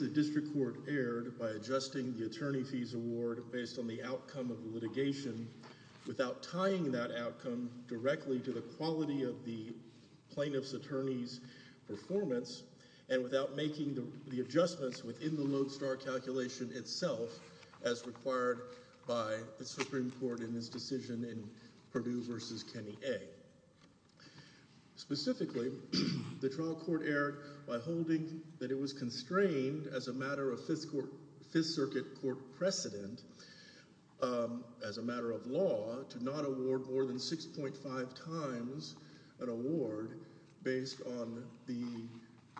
The District Court erred by adjusting the attorney fees award based on the outcome of the litigation without tying that outcome directly to the quality of the plaintiff's attorney's performance and without making the adjustments within the lodestar calculation itself as required by the Supreme Court in this decision in Perdue v. Kenny A. Specifically, the trial court erred by holding that it was constrained as a matter of Fifth Circuit court precedent as a matter of law to not award more than 6.5 times an award based on the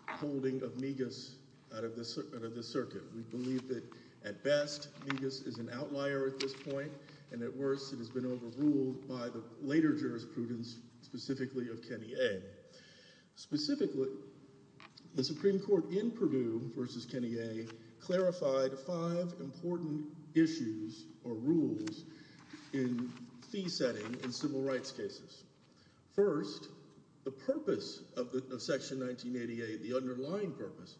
holding of Migas out of the circuit. We believe that at best Migas is an outlier at this point and at worst it has been overruled by the later jurisprudence specifically of Kenny A. Specifically, the Supreme Court in Perdue issues or rules in fee setting in civil rights cases. First, the purpose of Section 1988, the underlying purpose,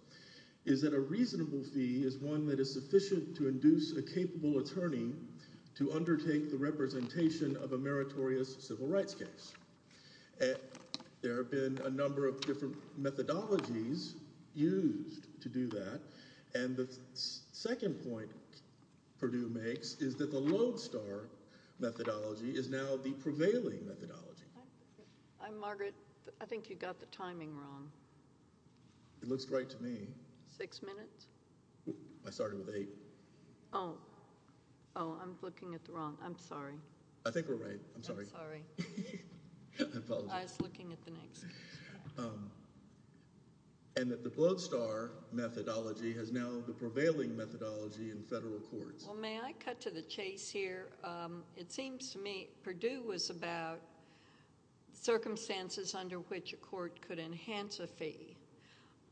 is that a reasonable fee is one that is sufficient to induce a capable attorney to undertake the representation of a meritorious civil rights case. There have been a number of different methodologies used to do that and the second point Perdue makes is that the lodestar methodology is now the prevailing methodology. I'm Margaret. I think you got the timing wrong. It looks right to me. Six minutes? I started with eight. Oh. Oh, I'm looking at the wrong. I'm sorry. I think we're right. I'm sorry. I'm sorry. I apologize. I was looking at the next case. And that the lodestar methodology has now the prevailing methodology in federal courts. Well, may I cut to the chase here? It seems to me Perdue was about circumstances under which a court could enhance a fee.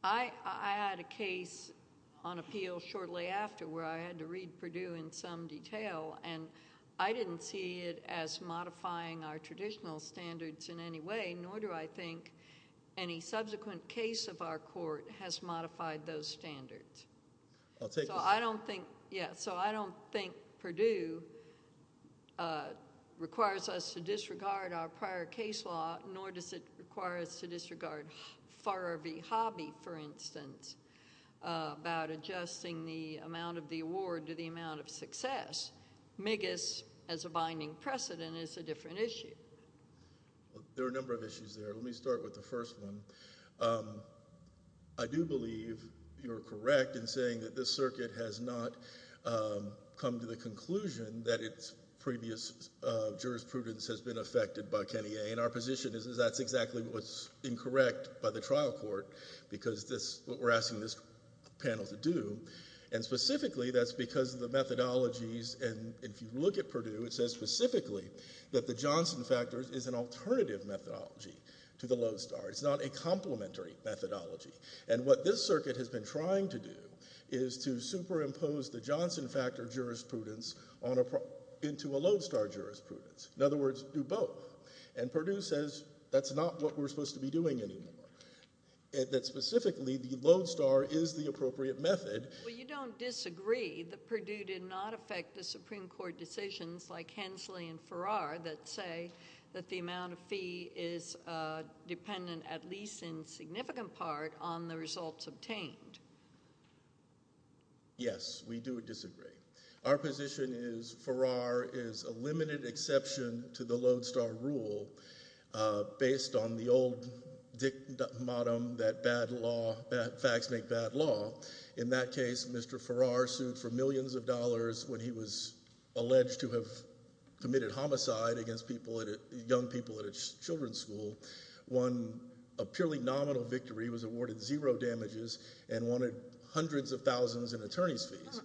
I had a case on appeal shortly after where I had to read Perdue in some detail and I didn't see it as modifying our traditional standards in any way, nor do I think any subsequent case of our court has modified those standards. I'll take the... So I don't think, yeah, so I don't think Perdue requires us to disregard our prior case law, nor does it require us to disregard Farrer v. Hobby, for instance, about adjusting the amount of the award to the amount of success. Migas, as a binding precedent, is a different issue. There are a number of issues there. Let me start with the first one. I do believe you're correct in saying that this circuit has not come to the conclusion that its previous jurisprudence has been affected by Kenny A. And our position is that that's exactly what's incorrect by the trial court because that's what we're asking this panel to do. And specifically, that's because of the methodologies, and if you look at Perdue, it says specifically that the Johnson factor is an alternative methodology to the Lodestar. It's not a complementary methodology. And what this circuit has been trying to do is to superimpose the Johnson factor jurisprudence into a Lodestar jurisprudence, in other words, do both. And Perdue says that's not what we're supposed to be doing anymore, that specifically the appropriate method. Well, you don't disagree that Perdue did not affect the Supreme Court decisions like Hensley and Farrar that say that the amount of fee is dependent, at least in significant part, on the results obtained. Yes, we do disagree. Our position is Farrar is a limited exception to the Lodestar rule based on the old dict snake bat law. In that case, Mr. Farrar sued for millions of dollars when he was alleged to have committed homicide against young people at a children's school, won a purely nominal victory, was awarded zero damages, and wanted hundreds of thousands in attorney's fees.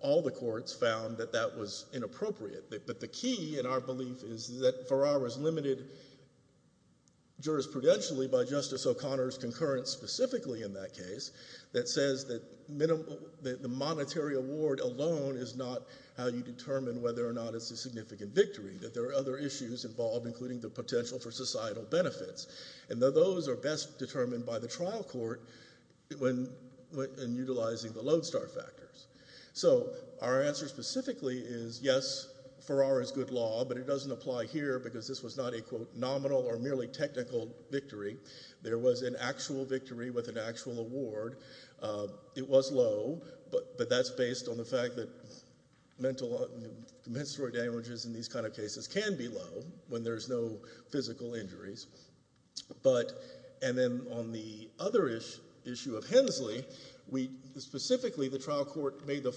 All the courts found that that was inappropriate, but the key in our belief is that Farrar was limited jurisprudentially by Justice O'Connor's concurrence specifically in that case that says that the monetary award alone is not how you determine whether or not it's a significant victory, that there are other issues involved, including the potential for societal benefits. And those are best determined by the trial court in utilizing the Lodestar factors. So our answer specifically is yes, Farrar is good law, but it doesn't apply here because this was not a, quote, nominal or merely technical victory. There was an actual victory with an actual award. It was low, but that's based on the fact that compensatory damages in these kind of cases can be low when there's no physical injuries. But and then on the other issue of Hensley, we specifically, the trial court made the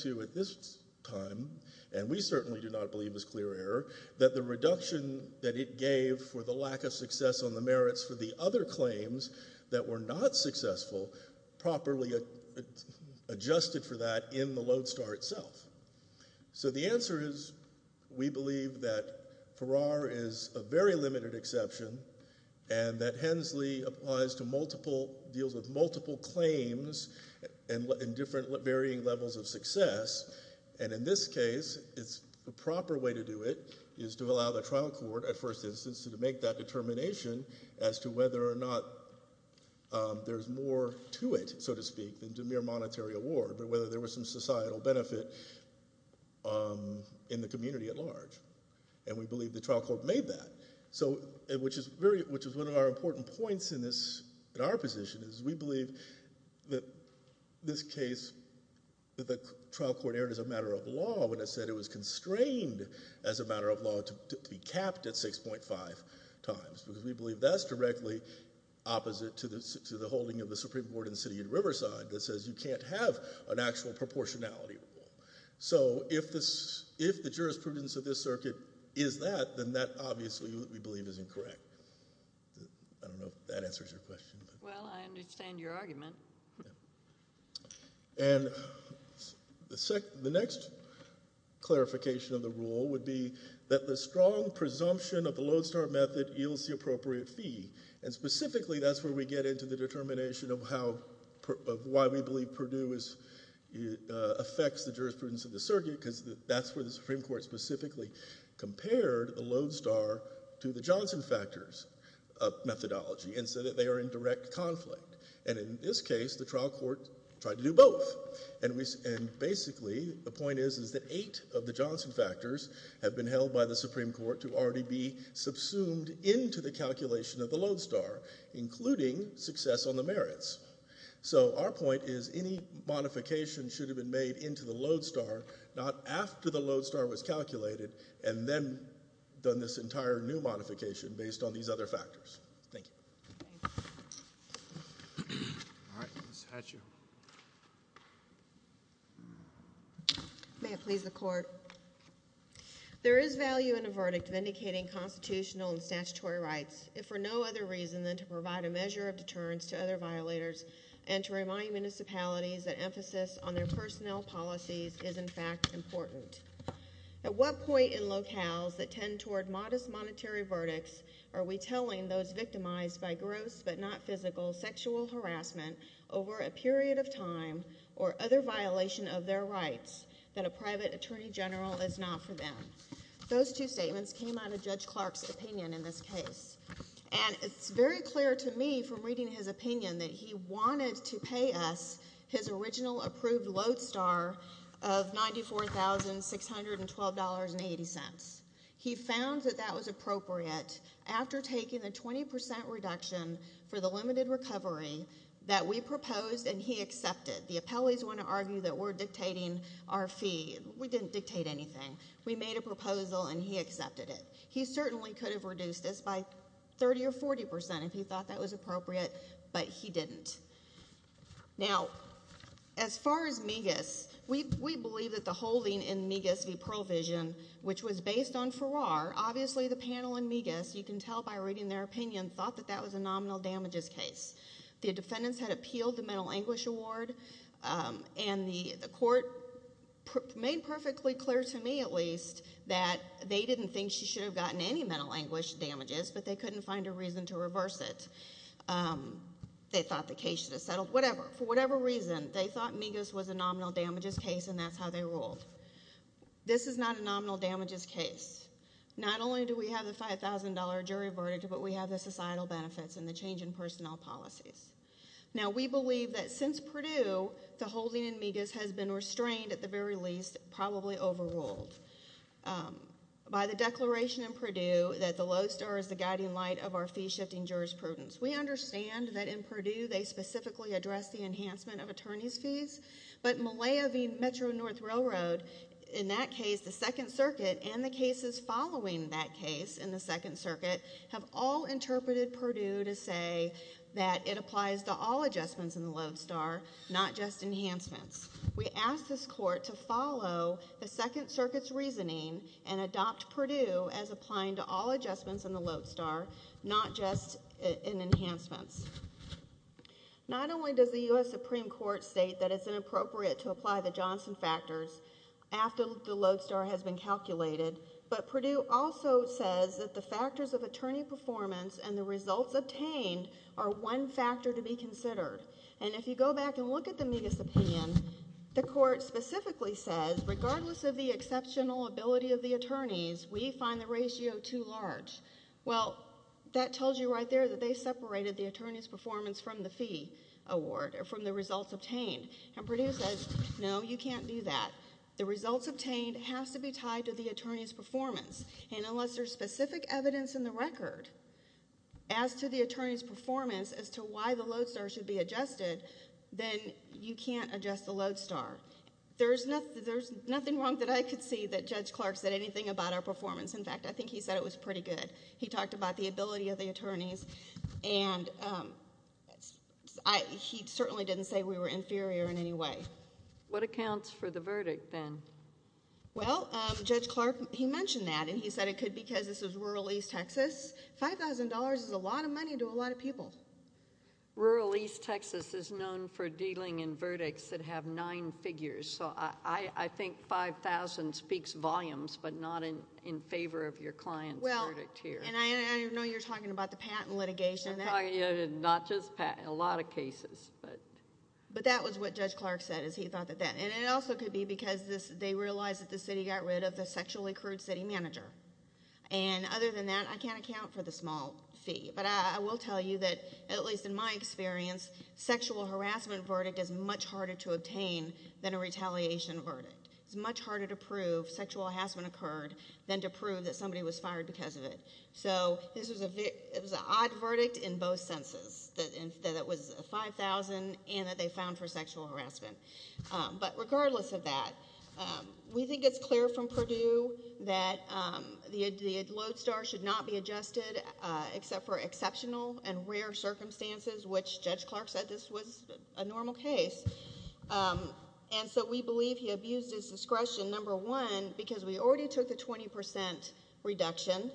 to at this time, and we certainly do not believe it was clear error, that the reduction that it gave for the lack of success on the merits for the other claims that were not successful properly adjusted for that in the Lodestar itself. So the answer is we believe that Farrar is a very limited exception, and that Hensley applies to multiple, deals with multiple claims in different varying levels of success. And in this case, the proper way to do it is to allow the trial court, at first instance, to make that determination as to whether or not there's more to it, so to speak, than to mere monetary award, but whether there was some societal benefit in the community at large. And we believe the trial court made that. So which is very, which is one of our important points in this, in our position, is we believe that this case, that the trial court erred as a matter of law when it said it was constrained as a matter of law to be capped at 6.5 times, because we believe that's directly opposite to the holding of the Supreme Court in the city of Riverside that says you can't have an actual proportionality rule. So if this, if the jurisprudence of this circuit is that, then that obviously we believe is incorrect. I don't know if that answers your question, but. Well, I understand your argument. And the next clarification of the rule would be that the strong presumption of the Lodestar method yields the appropriate fee, and specifically that's where we get into the determination of how, of why we believe Purdue is, affects the jurisprudence of the circuit, because that's where the Supreme Court specifically compared the Lodestar to the Johnson factors methodology, and said that they are in direct conflict. And in this case, the trial court tried to do both. And we, and basically the point is, is that eight of the Johnson factors have been held by the Supreme Court to already be subsumed into the calculation of the Lodestar, including success on the merits. So our point is, any modification should have been made into the Lodestar, not after the Lodestar was calculated, and then done this entire new modification based on these other factors. Thank you. All right. Ms. Hatchew. May it please the court. There is value in a verdict vindicating constitutional and statutory rights, if for no other reason than to provide a measure of deterrence to other violators, and to remind municipalities that emphasis on their personnel policies is, in fact, important. At what point in locales that tend toward modest monetary verdicts are we telling those victimized by gross but not physical sexual harassment over a period of time, or other violation of their rights, that a private attorney general is not for them? Those two statements came out of Judge Clark's opinion in this case. And it's very clear to me from reading his opinion that he wanted to pay us his original approved Lodestar of $94,612.80. He found that that was appropriate after taking a 20 percent reduction for the limited recovery that we proposed and he accepted. The appellees want to argue that we're dictating our fee. We didn't dictate anything. We made a proposal and he accepted it. He certainly could have reduced this by 30 or 40 percent if he thought that was appropriate, but he didn't. Now, as far as Migas, we believe that the holding in Migas v. Pearl Vision, which was based on Farrar, obviously the panel in Migas, you can tell by reading their opinion, thought that that was a nominal damages case. The defendants had appealed the mental anguish award and the court made perfectly clear to me, at least, that they didn't think she should have gotten any mental anguish damages, but they couldn't find a reason to reverse it. They thought the case should have settled, whatever, for whatever reason, they thought Migas was a nominal damages case and that's how they ruled. This is not a nominal damages case. Not only do we have the $5,000 jury verdict, but we have the societal benefits and the change in personnel policies. Now, we believe that since Purdue, the holding in Migas has been restrained at the very least, it's probably overruled, by the declaration in Purdue that the Lowe's Star is the guiding light of our fee-shifting jurisprudence. We understand that in Purdue they specifically address the enhancement of attorney's fees, but Malaya v. Metro North Railroad, in that case, the Second Circuit and the cases following that case in the Second Circuit, have all interpreted Purdue to say that it applies to all adjustments in the Lowe's Star, not just enhancements. We ask this Court to follow the Second Circuit's reasoning and adopt Purdue as applying to all adjustments in the Lowe's Star, not just in enhancements. Not only does the U.S. Supreme Court state that it's inappropriate to apply the Johnson factors after the Lowe's Star has been calculated, but Purdue also says that the factors of attorney performance and the results obtained are one factor to be considered. And if you go back and look at the Migas opinion, the Court specifically says, regardless of the exceptional ability of the attorneys, we find the ratio too large. Well, that tells you right there that they separated the attorney's performance from the fee award, from the results obtained, and Purdue says, no, you can't do that. The results obtained have to be tied to the attorney's performance, and unless there's specific evidence in the record as to the attorney's performance as to why the Lowe's Star should be adjusted, then you can't adjust the Lowe's Star. There's nothing wrong that I could see that Judge Clark said anything about our performance. In fact, I think he said it was pretty good. He talked about the ability of the attorneys, and he certainly didn't say we were inferior in any way. What accounts for the verdict then? Well, Judge Clark, he mentioned that, and he said it could be because this is rural East Texas. Five thousand dollars is a lot of money to a lot of people. Rural East Texas is known for dealing in verdicts that have nine figures, so I think five thousand speaks volumes, but not in favor of your client's verdict here. I know you're talking about the patent litigation. Not just patent. A lot of cases, but... But that was what Judge Clark said, is he thought that that... and it also could be because they realized that the city got rid of the sexually accrued city manager, and other than that, I can't account for the small fee. But I will tell you that, at least in my experience, sexual harassment verdict is much harder to obtain than a retaliation verdict. It's much harder to prove sexual harassment occurred than to prove that somebody was fired because of it. So, this was a... it was an odd verdict in both senses, that it was five thousand and that they found for sexual harassment. But regardless of that, we think it's clear from Purdue that the load star should not be adjusted, except for exceptional and rare circumstances, which Judge Clark said this was a normal case. And so, we believe he abused his discretion, number one, because we already took the twenty percent reduction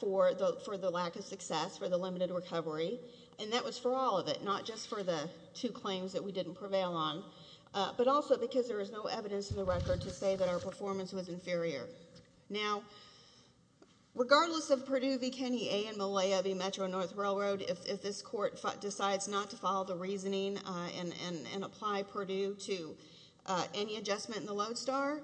for the lack of success, for the limited recovery, and that was for all of it, not just for the two claims that we didn't prevail on, but also because there was no evidence in the record to say that our performance was inferior. Now, regardless of Purdue v. Kenney A. and Malaya v. Metro North Railroad, if this Court decides not to follow the reasoning and apply Purdue to any adjustment in the load star,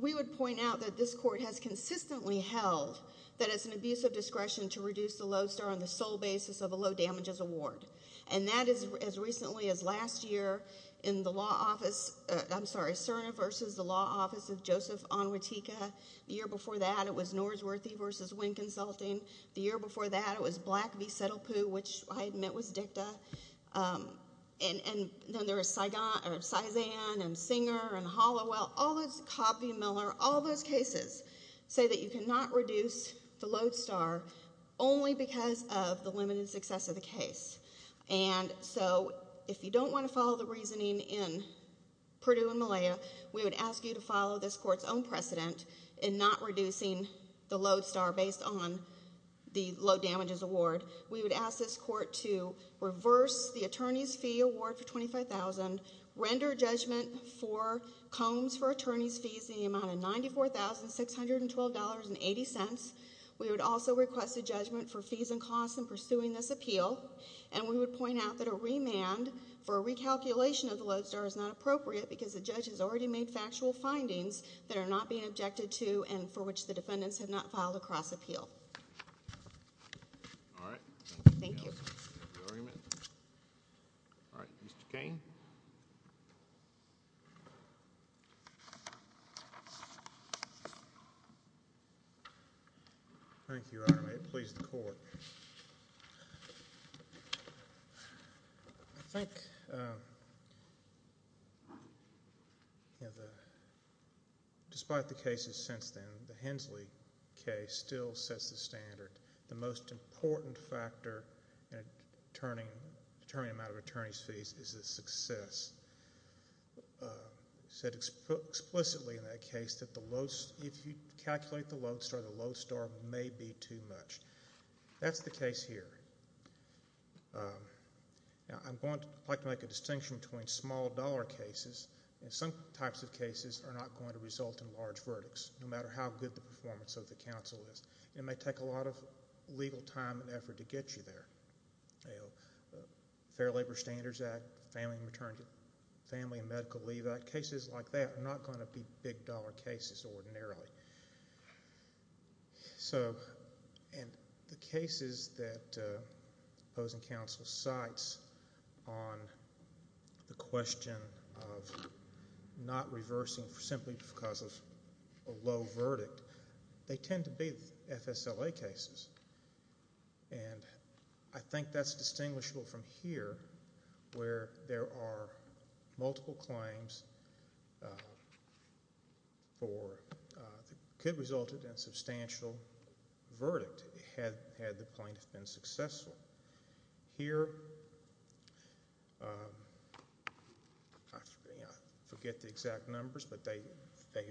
we would point out that this Court has consistently held that it's an abuse of discretion to reduce the load star on the sole basis of a low damages award. And that is, as recently as last year, in the law office... I'm sorry, Cerner v. Merrill, which was the law office of Joseph Onwetika. The year before that, it was Norsworthy v. Winn Consulting. The year before that, it was Black v. Settlepoo, which I admit was DICTA. And then there was Cizan and Singer and Hollowell, Cobb v. Miller. All those cases say that you cannot reduce the load star only because of the limited success of the case. And so, if you don't want to follow the reasoning in Purdue v. Malaya, we would ask you to follow this Court's own precedent in not reducing the load star based on the low damages award. We would ask this Court to reverse the attorney's fee award for $25,000, render judgment for combs for attorney's fees in the amount of $94,612.80. We would also request a judgment for fees and costs in pursuing this appeal. And we would point out that a remand for recalculation of the load star is not appropriate because the judge has already made factual findings that are not being objected to and for which the defendants have not filed a cross-appeal. Thank you. All right. Mr. Cain? Thank you, Your Honor. May it please the Court. I think, you know, despite the cases since then, the Hensley case still sets the standard. The most important factor in determining the amount of attorney's fees is the success. It's explicitly in that case that if you calculate the load star, the load star may be too much. That's the case here. Now, I'd like to make a distinction between small-dollar cases, and some types of cases are not going to result in large verdicts, no matter how good the performance of the counsel is. It may take a lot of legal time and effort to get you there. Fair Labor Standards Act, Family and Medical Leave Act, cases like that are not going to be big-dollar cases ordinarily. So in the cases that opposing counsel cites on the question of not reversing simply because of a low verdict, they tend to be FSLA cases. And I think that's distinguishable from here, where there are multiple claims for what could result in a substantial verdict, had the plaintiff been successful. Here, I forget the exact numbers, but the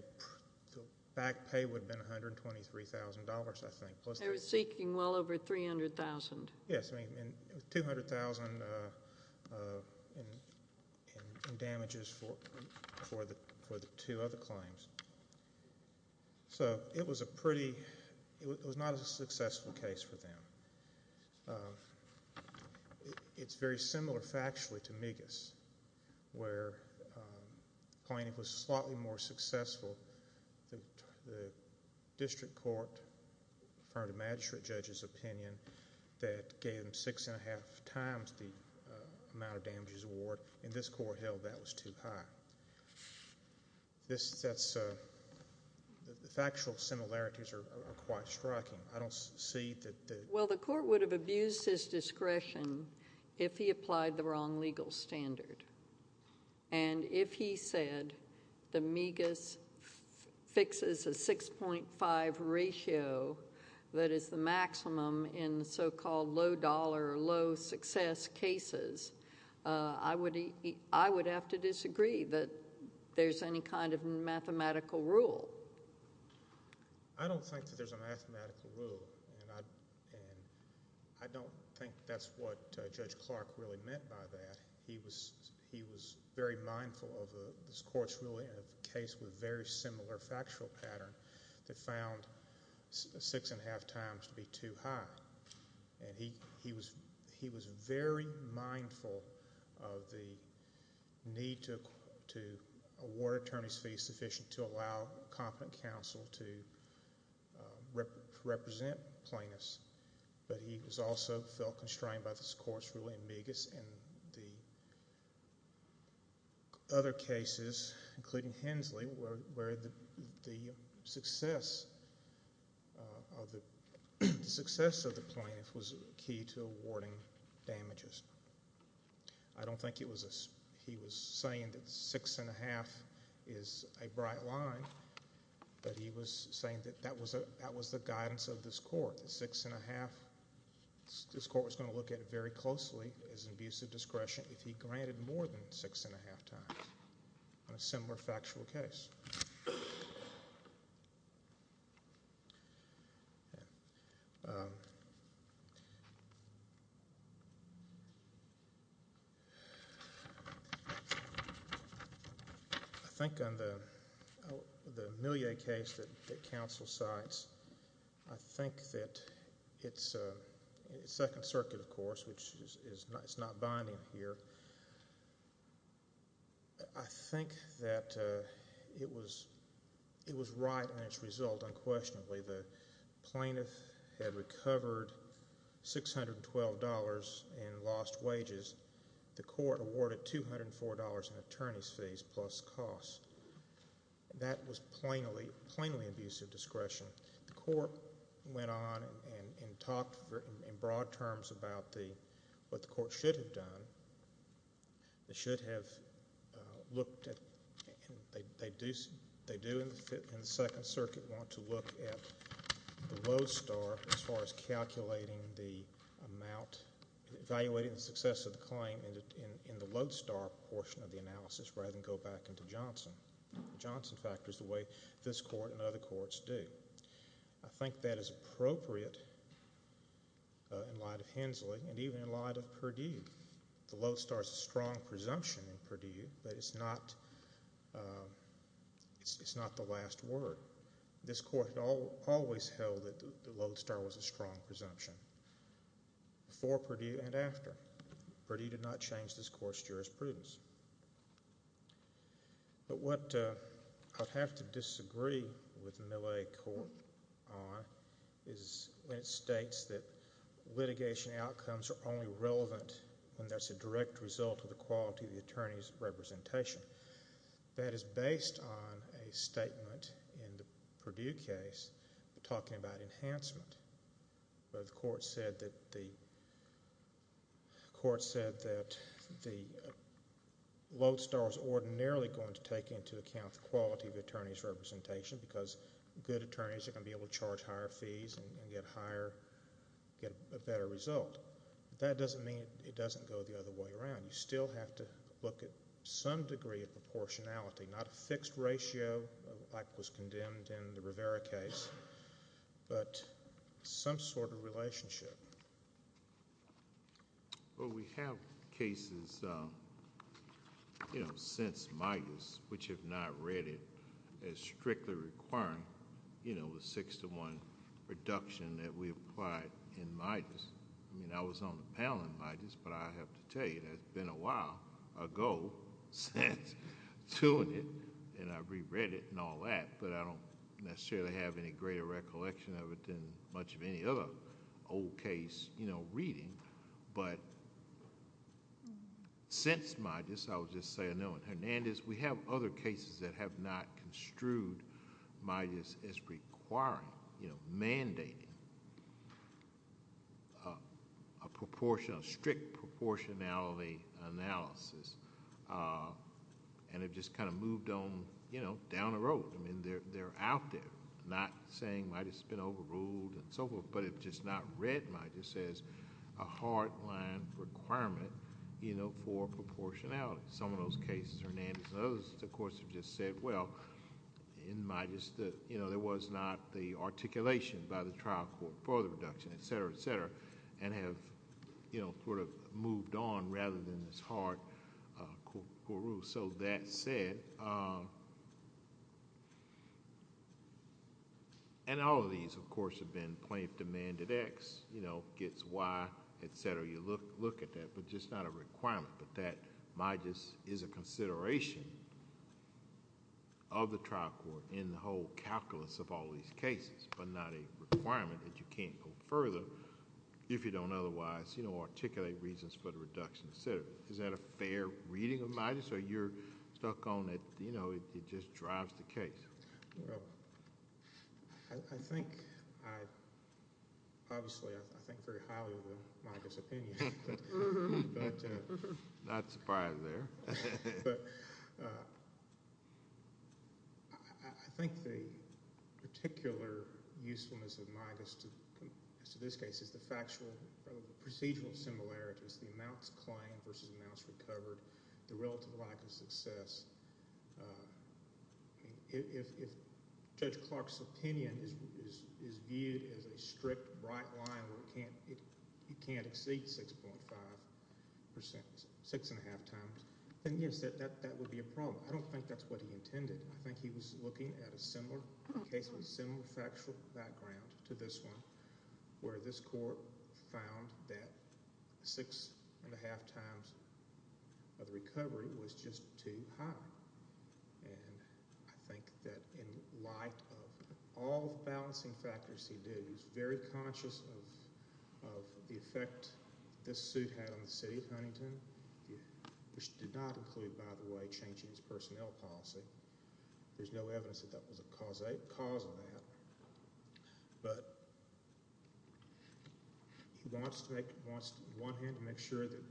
back pay would have been $123,000, I think. They were seeking well over $300,000. Yes, $200,000 in damages for the two other claims. So, it was a pretty, it was not a successful case for them. It's very similar factually to Migas, where the plaintiff was slightly more successful. The district court heard a magistrate judge's opinion that gave them six-and-a-half times the amount of damages award. In this court, hell, that was too high. This, that's, the factual similarities are quite striking. I don't see that the... Well, the court would have abused his discretion if he applied the wrong legal standard. And if he said the Migas fixes a 6.5 ratio that is the maximum in so-called low-dollar, low-success cases, I would have to disagree that there's any kind of mathematical rule. I don't think that there's a mathematical rule, and I don't think that's what Judge Clark really meant by that. He was very mindful of this court's ruling of a case with a very similar factual pattern that found six-and-a-half times to be too high. And he was very mindful of the need to award attorneys fees sufficient to allow competent counsel to represent plaintiffs. But he also felt constrained by this court's ruling of Migas and the other cases, including Hensley, where the success of the plaintiff was key to awarding damages. I don't think he was saying that six-and-a-half is a bright line, but he was saying that that was the guidance of this court, that six-and-a-half, this court was going to look at it very closely as abusive discretion if he granted more than six-and-a-half times on a similar factual case. I think on the Millier case that counsel cites, I think that it's second circuit, of course, which is not binding here. But I think that it was right in its result, unquestionably. The plaintiff had recovered $612 in lost wages. The court awarded $204 in attorney's fees plus costs. That was plainly abusive discretion. The court went on and talked in broad terms about what the court should have done. They should have looked at and they do in the second circuit want to look at the low star as far as calculating the amount, evaluating the success of the claim in the low star portion of the analysis rather than go back into Johnson. Johnson factors the way this court and other courts do. I think that is appropriate in light of Hensley and even in light of Perdue. The low star is a strong presumption in Perdue that it's not the last word. This court always held that the low star was a strong presumption before Perdue and after. Perdue did not change this court's jurisprudence. But what I'd have to disagree with Millet Court on is when it states that litigation outcomes are only relevant when that's a direct result of the quality of the attorney's representation. That is based on a statement in the Perdue case talking about enhancement. The court said that the low star is ordinarily going to take into account the quality of the attorney's representation because good attorneys are going to be able to charge higher fees and get a better result. That doesn't mean it doesn't go the other way around. You still have to look at some degree of proportionality, not a fixed ratio like was condemned in the Rivera case, but some sort of relationship. We have cases since Midas which have not read it as strictly requiring the six-to-one reduction that we applied in Midas. I was on the panel in Midas, but I have to tell you that it's been a while ago since doing it, and I reread it and all that, but I don't necessarily have any greater recollection of it than much of any other old case reading. Since Midas, I would just say no. In Hernandez, we have other cases that have not construed Midas as requiring, mandating a strict proportionality analysis and have just moved down the road. They're out there, not saying Midas has been overruled and so forth, but have just not read Midas as a hard-line requirement for proportionality. Some of those cases, Hernandez and others, of course, have just said, well, in Midas, there was not the articulation by the trial court for the reduction, et cetera, et cetera, and have moved on rather than this hard core rule. That said, and all of these, of course, have been plaintiff-demanded X gets Y, et cetera. You look at that, but just not a requirement, but that Midas is a consideration of the trial court in the whole calculus of all these cases, but not a requirement that you can't go further if you don't otherwise articulate reasons for the reduction, et cetera. Is that a fair reading of Midas, or you're stuck on it, it just drives the case? Well, I think, obviously, I think very highly of Midas' opinion. Not surprised there. But I think the particular usefulness of Midas to this case is the factual procedural similarities, the amounts claimed versus amounts recovered, the relative lack of success. If Judge Clark's opinion is viewed as a strict, bright line where it can't exceed 6.5%, 6.5 times, then yes, that would be a problem. I don't think that's what he intended. I think he was looking at a similar case with a similar factual background to this one where this court found that 6.5 times of recovery was just too high. And I think that in light of all the balancing factors he did, he was very conscious of the effect this suit had on the city of Huntington, which did not include, by the way, changing its personnel policy. There's no evidence that that was a cause of that. But he wants to, on the one hand, make sure that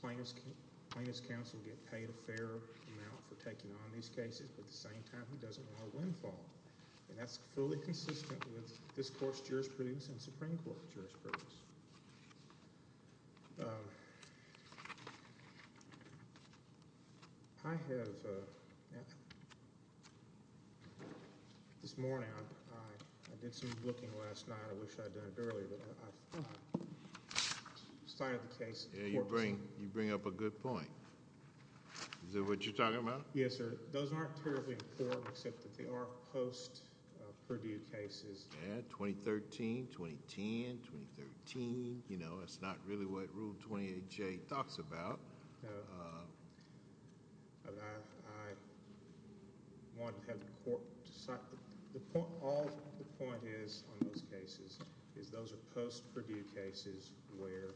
plaintiffs' counsel get paid a fair amount for taking on these cases, but at the same time, he doesn't want a windfall. And that's fully consistent with this court's jurisprudence and Supreme Court jurisprudence. I have... this morning, I did some looking last night. I wish I had done it earlier, but I cited the case... You bring up a good point. Is that what you're talking about? Yes, sir. Those aren't terribly important, except that they are post-Purdue cases. Yeah, 2013, 2010, 2013. That's not really what Rule 28J talks about. No. I want to have the court decide... All the point is on those cases is those are post-Purdue cases where...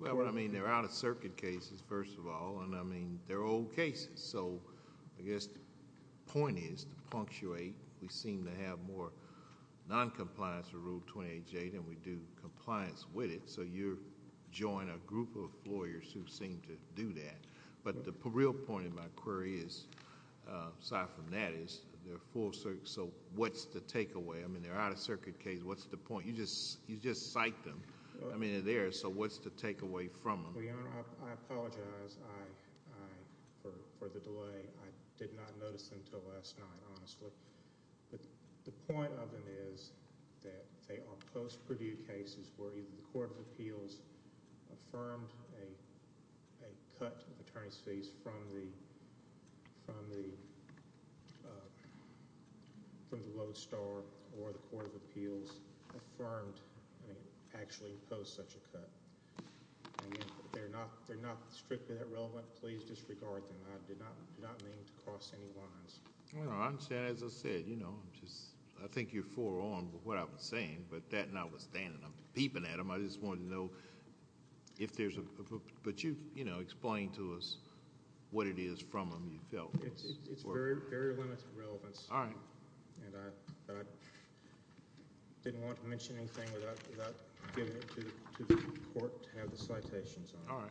Well, I mean, they're out-of-circuit cases, first of all, and I mean, they're old cases. So I guess the point is to punctuate. We seem to have more noncompliance with Rule 28J than we do compliance with it, so you join a group of lawyers who seem to do that. But the real point of my query is, aside from that, is they're full... So what's the takeaway? I mean, they're out-of-circuit cases. What's the point? You just cite them. I mean, they're there, so what's the takeaway from them? Well, Your Honor, I apologize for the delay. I did not notice them until last night, honestly. But the point of them is that they are post-Purdue cases where either the Court of Appeals affirmed a cut in attorney's fees from the Lowe's Star or the Court of Appeals affirmed and actually imposed such a cut. I mean, they're not strictly that relevant. Please disregard them. I did not mean to cross any lines. Your Honor, as I said, you know, I think you're forearm with what I was saying, but that and I was standing up and peeping at them. I just wanted to know if there's a... But you explained to us what it is from them you felt was... It's very limited relevance. All right. And I didn't want to mention anything without giving it to the Court to have the citations on it.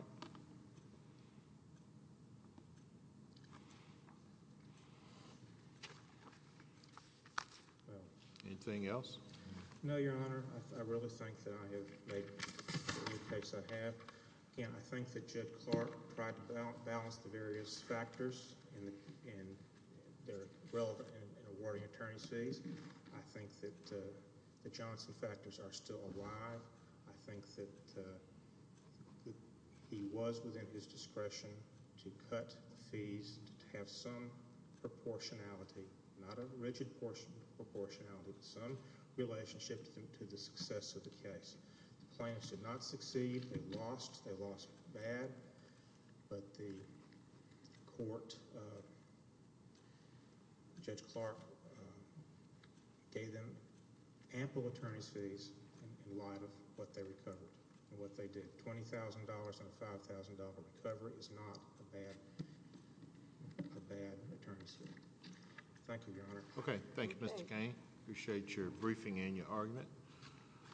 All right. Anything else? No, Your Honor. I really think that I have made the case I have. Again, I think that Judge Clark tried to balance the various factors and they're relevant in awarding attorney's fees. I think that the Johnson factors are still alive. I think that he was within his discretion to cut fees to have some proportionality, not a rigid proportionality, but some relationship to the success of the case. The plaintiffs did not succeed. They lost. They lost bad. But the Court, Judge Clark gave them ample attorney's fees in light of what they recovered and what they did. Twenty thousand dollars on a five thousand dollar recovery is not a bad attorney's fee. Thank you, Your Honor. Okay. Thank you, Mr. Cain. Appreciate your briefing and your argument.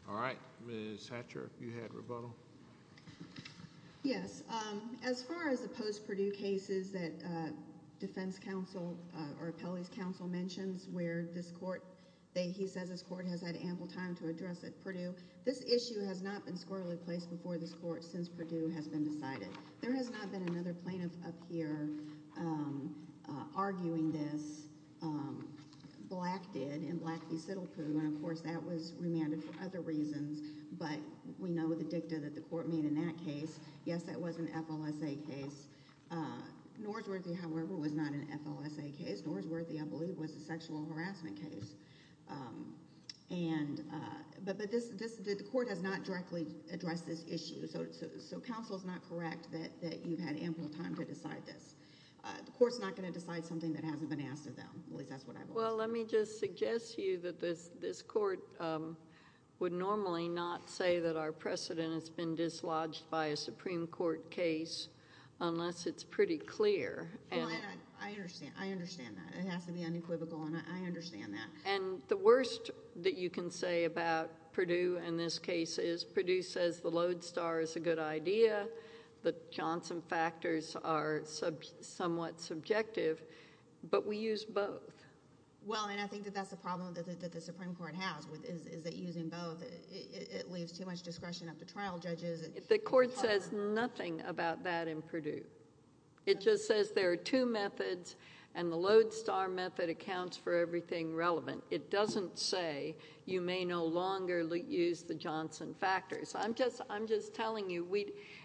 All right. Ms. Hatcher, you had rebuttal. Yes. As far as the post-Purdue cases that defense counsel or appellee's counsel mentions where this Court, he says this Court has had ample time to address at Purdue, this issue has not been squarely placed before this Court since Purdue has been decided. There has not been another plaintiff up here arguing this. Black did in Black v. Siddlepoo, and of course that was remanded for other reasons, but we know the dicta that the Court made in that case. Yes, that was an FLSA case. Norsworthy, however, was not an FLSA case. Norsworthy, I believe, was a sexual harassment case. But the Court has not directly addressed this issue, so counsel is not correct that you've had ample time to decide this. The Court is not going to decide something that hasn't been asked of them. At least that's what I believe. Well, let me just suggest to you that this Court would normally not say that our precedent has been dislodged by a Supreme Court case unless it's pretty clear. I understand that. It has to be unequivocal, and I understand that. The worst that you can say about Purdue in this case is Purdue says the Lodestar is a good idea, the Johnson factors are somewhat subjective, but we use both. Well, and I think that that's a problem that the Supreme Court has is that using both, it leaves too much discretion up to trial judges. The Court says nothing about that in Purdue. It just says there are two methods, and the Lodestar method accounts for everything relevant. It doesn't say you may no longer use the Johnson factors. I'm just telling you,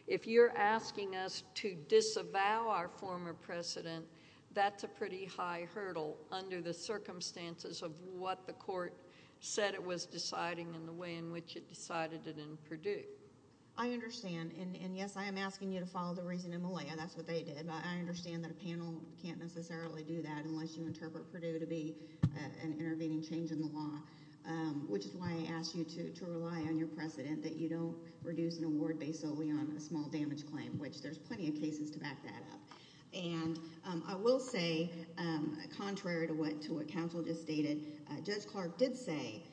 if you're asking us to disavow our former precedent, that's a pretty high hurdle under the circumstances of what the Court said it was deciding and the way in which it decided it in Purdue. I understand, and yes, I am asking you to follow the reason in Malaya. That's what they did. I understand that a panel can't necessarily do that unless you interpret Purdue to be an intervening change in the law, which is why I ask you to rely on your precedent that you don't reduce an award based solely on a small damage claim, which there's plenty of cases to back that up. And I will say, contrary to what counsel just stated, Judge Clark did say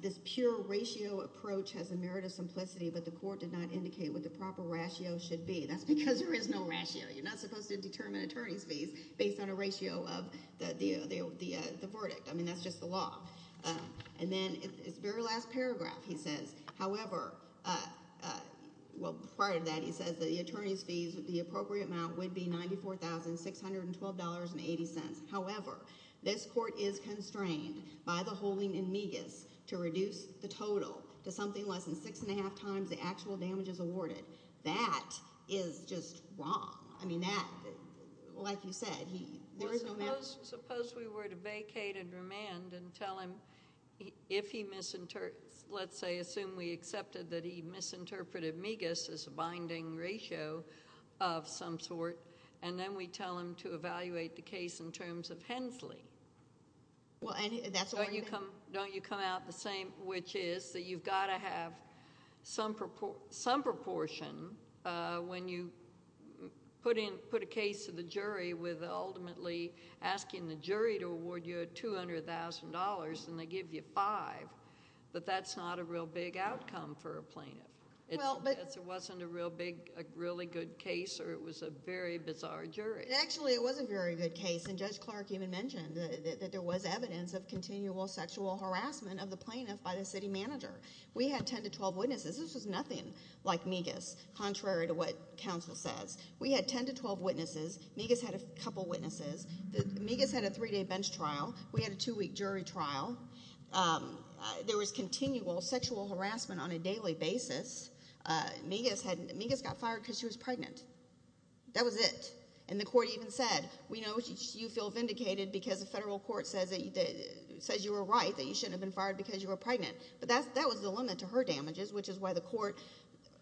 this pure ratio approach has a merit of simplicity, but the Court did not indicate what the proper ratio should be. That's because there is no ratio. You're not supposed to determine attorney's fees based on a ratio of the verdict. I mean, that's just the law. And then his very last paragraph he says, however, well, prior to that he says the attorney's fees, the appropriate amount would be $94,612.80. However, this Court is constrained by the holding in megas to reduce the total to something less than six and a half times the actual damages awarded. That is just wrong. I mean, that, like you said, there is no matter. Suppose we were to vacate and remand and tell him if he, let's say, assume we accepted that he misinterpreted megas as a binding ratio of some sort, and then we tell him to evaluate the case in terms of Hensley. Don't you come out the same, which is that you've got to have some proportion when you put a case to the jury with ultimately asking the jury to award you $200,000 and they give you five, but that's not a real big outcome for a plaintiff. It wasn't a really good case or it was a very bizarre jury. Actually, it was a very good case, and Judge Clark even mentioned that there was evidence of continual sexual harassment of the plaintiff by the city manager. We had ten to twelve witnesses. This was nothing like megas, contrary to what counsel says. We had ten to twelve witnesses. Megas had a couple witnesses. Megas had a three-day bench trial. We had a two-week jury trial. There was continual sexual harassment on a daily basis. Megas got fired because she was pregnant. That was it. And the court even said, we know you feel vindicated because the federal court says you were right, that you shouldn't have been fired because you were pregnant. But that was the limit to her damages, which is why the court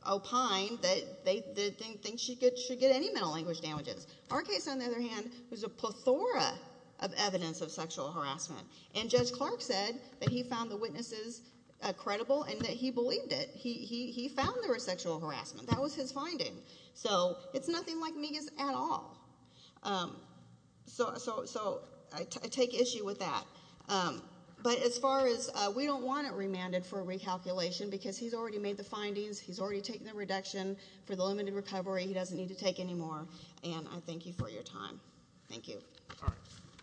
opined that they didn't think she should get any mental language damages. Our case, on the other hand, was a plethora of evidence of sexual harassment, and Judge Clark said that he found the witnesses credible and that he believed it. He found there was sexual harassment. That was his finding. So it's nothing like megas at all. So I take issue with that. But as far as we don't want it remanded for recalculation because he's already made the findings. He's already taken the reduction for the limited recovery. He doesn't need to take any more. And I thank you for your time. Thank you. All right.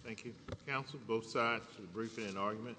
Thank you, counsel, both sides for the briefing and argument.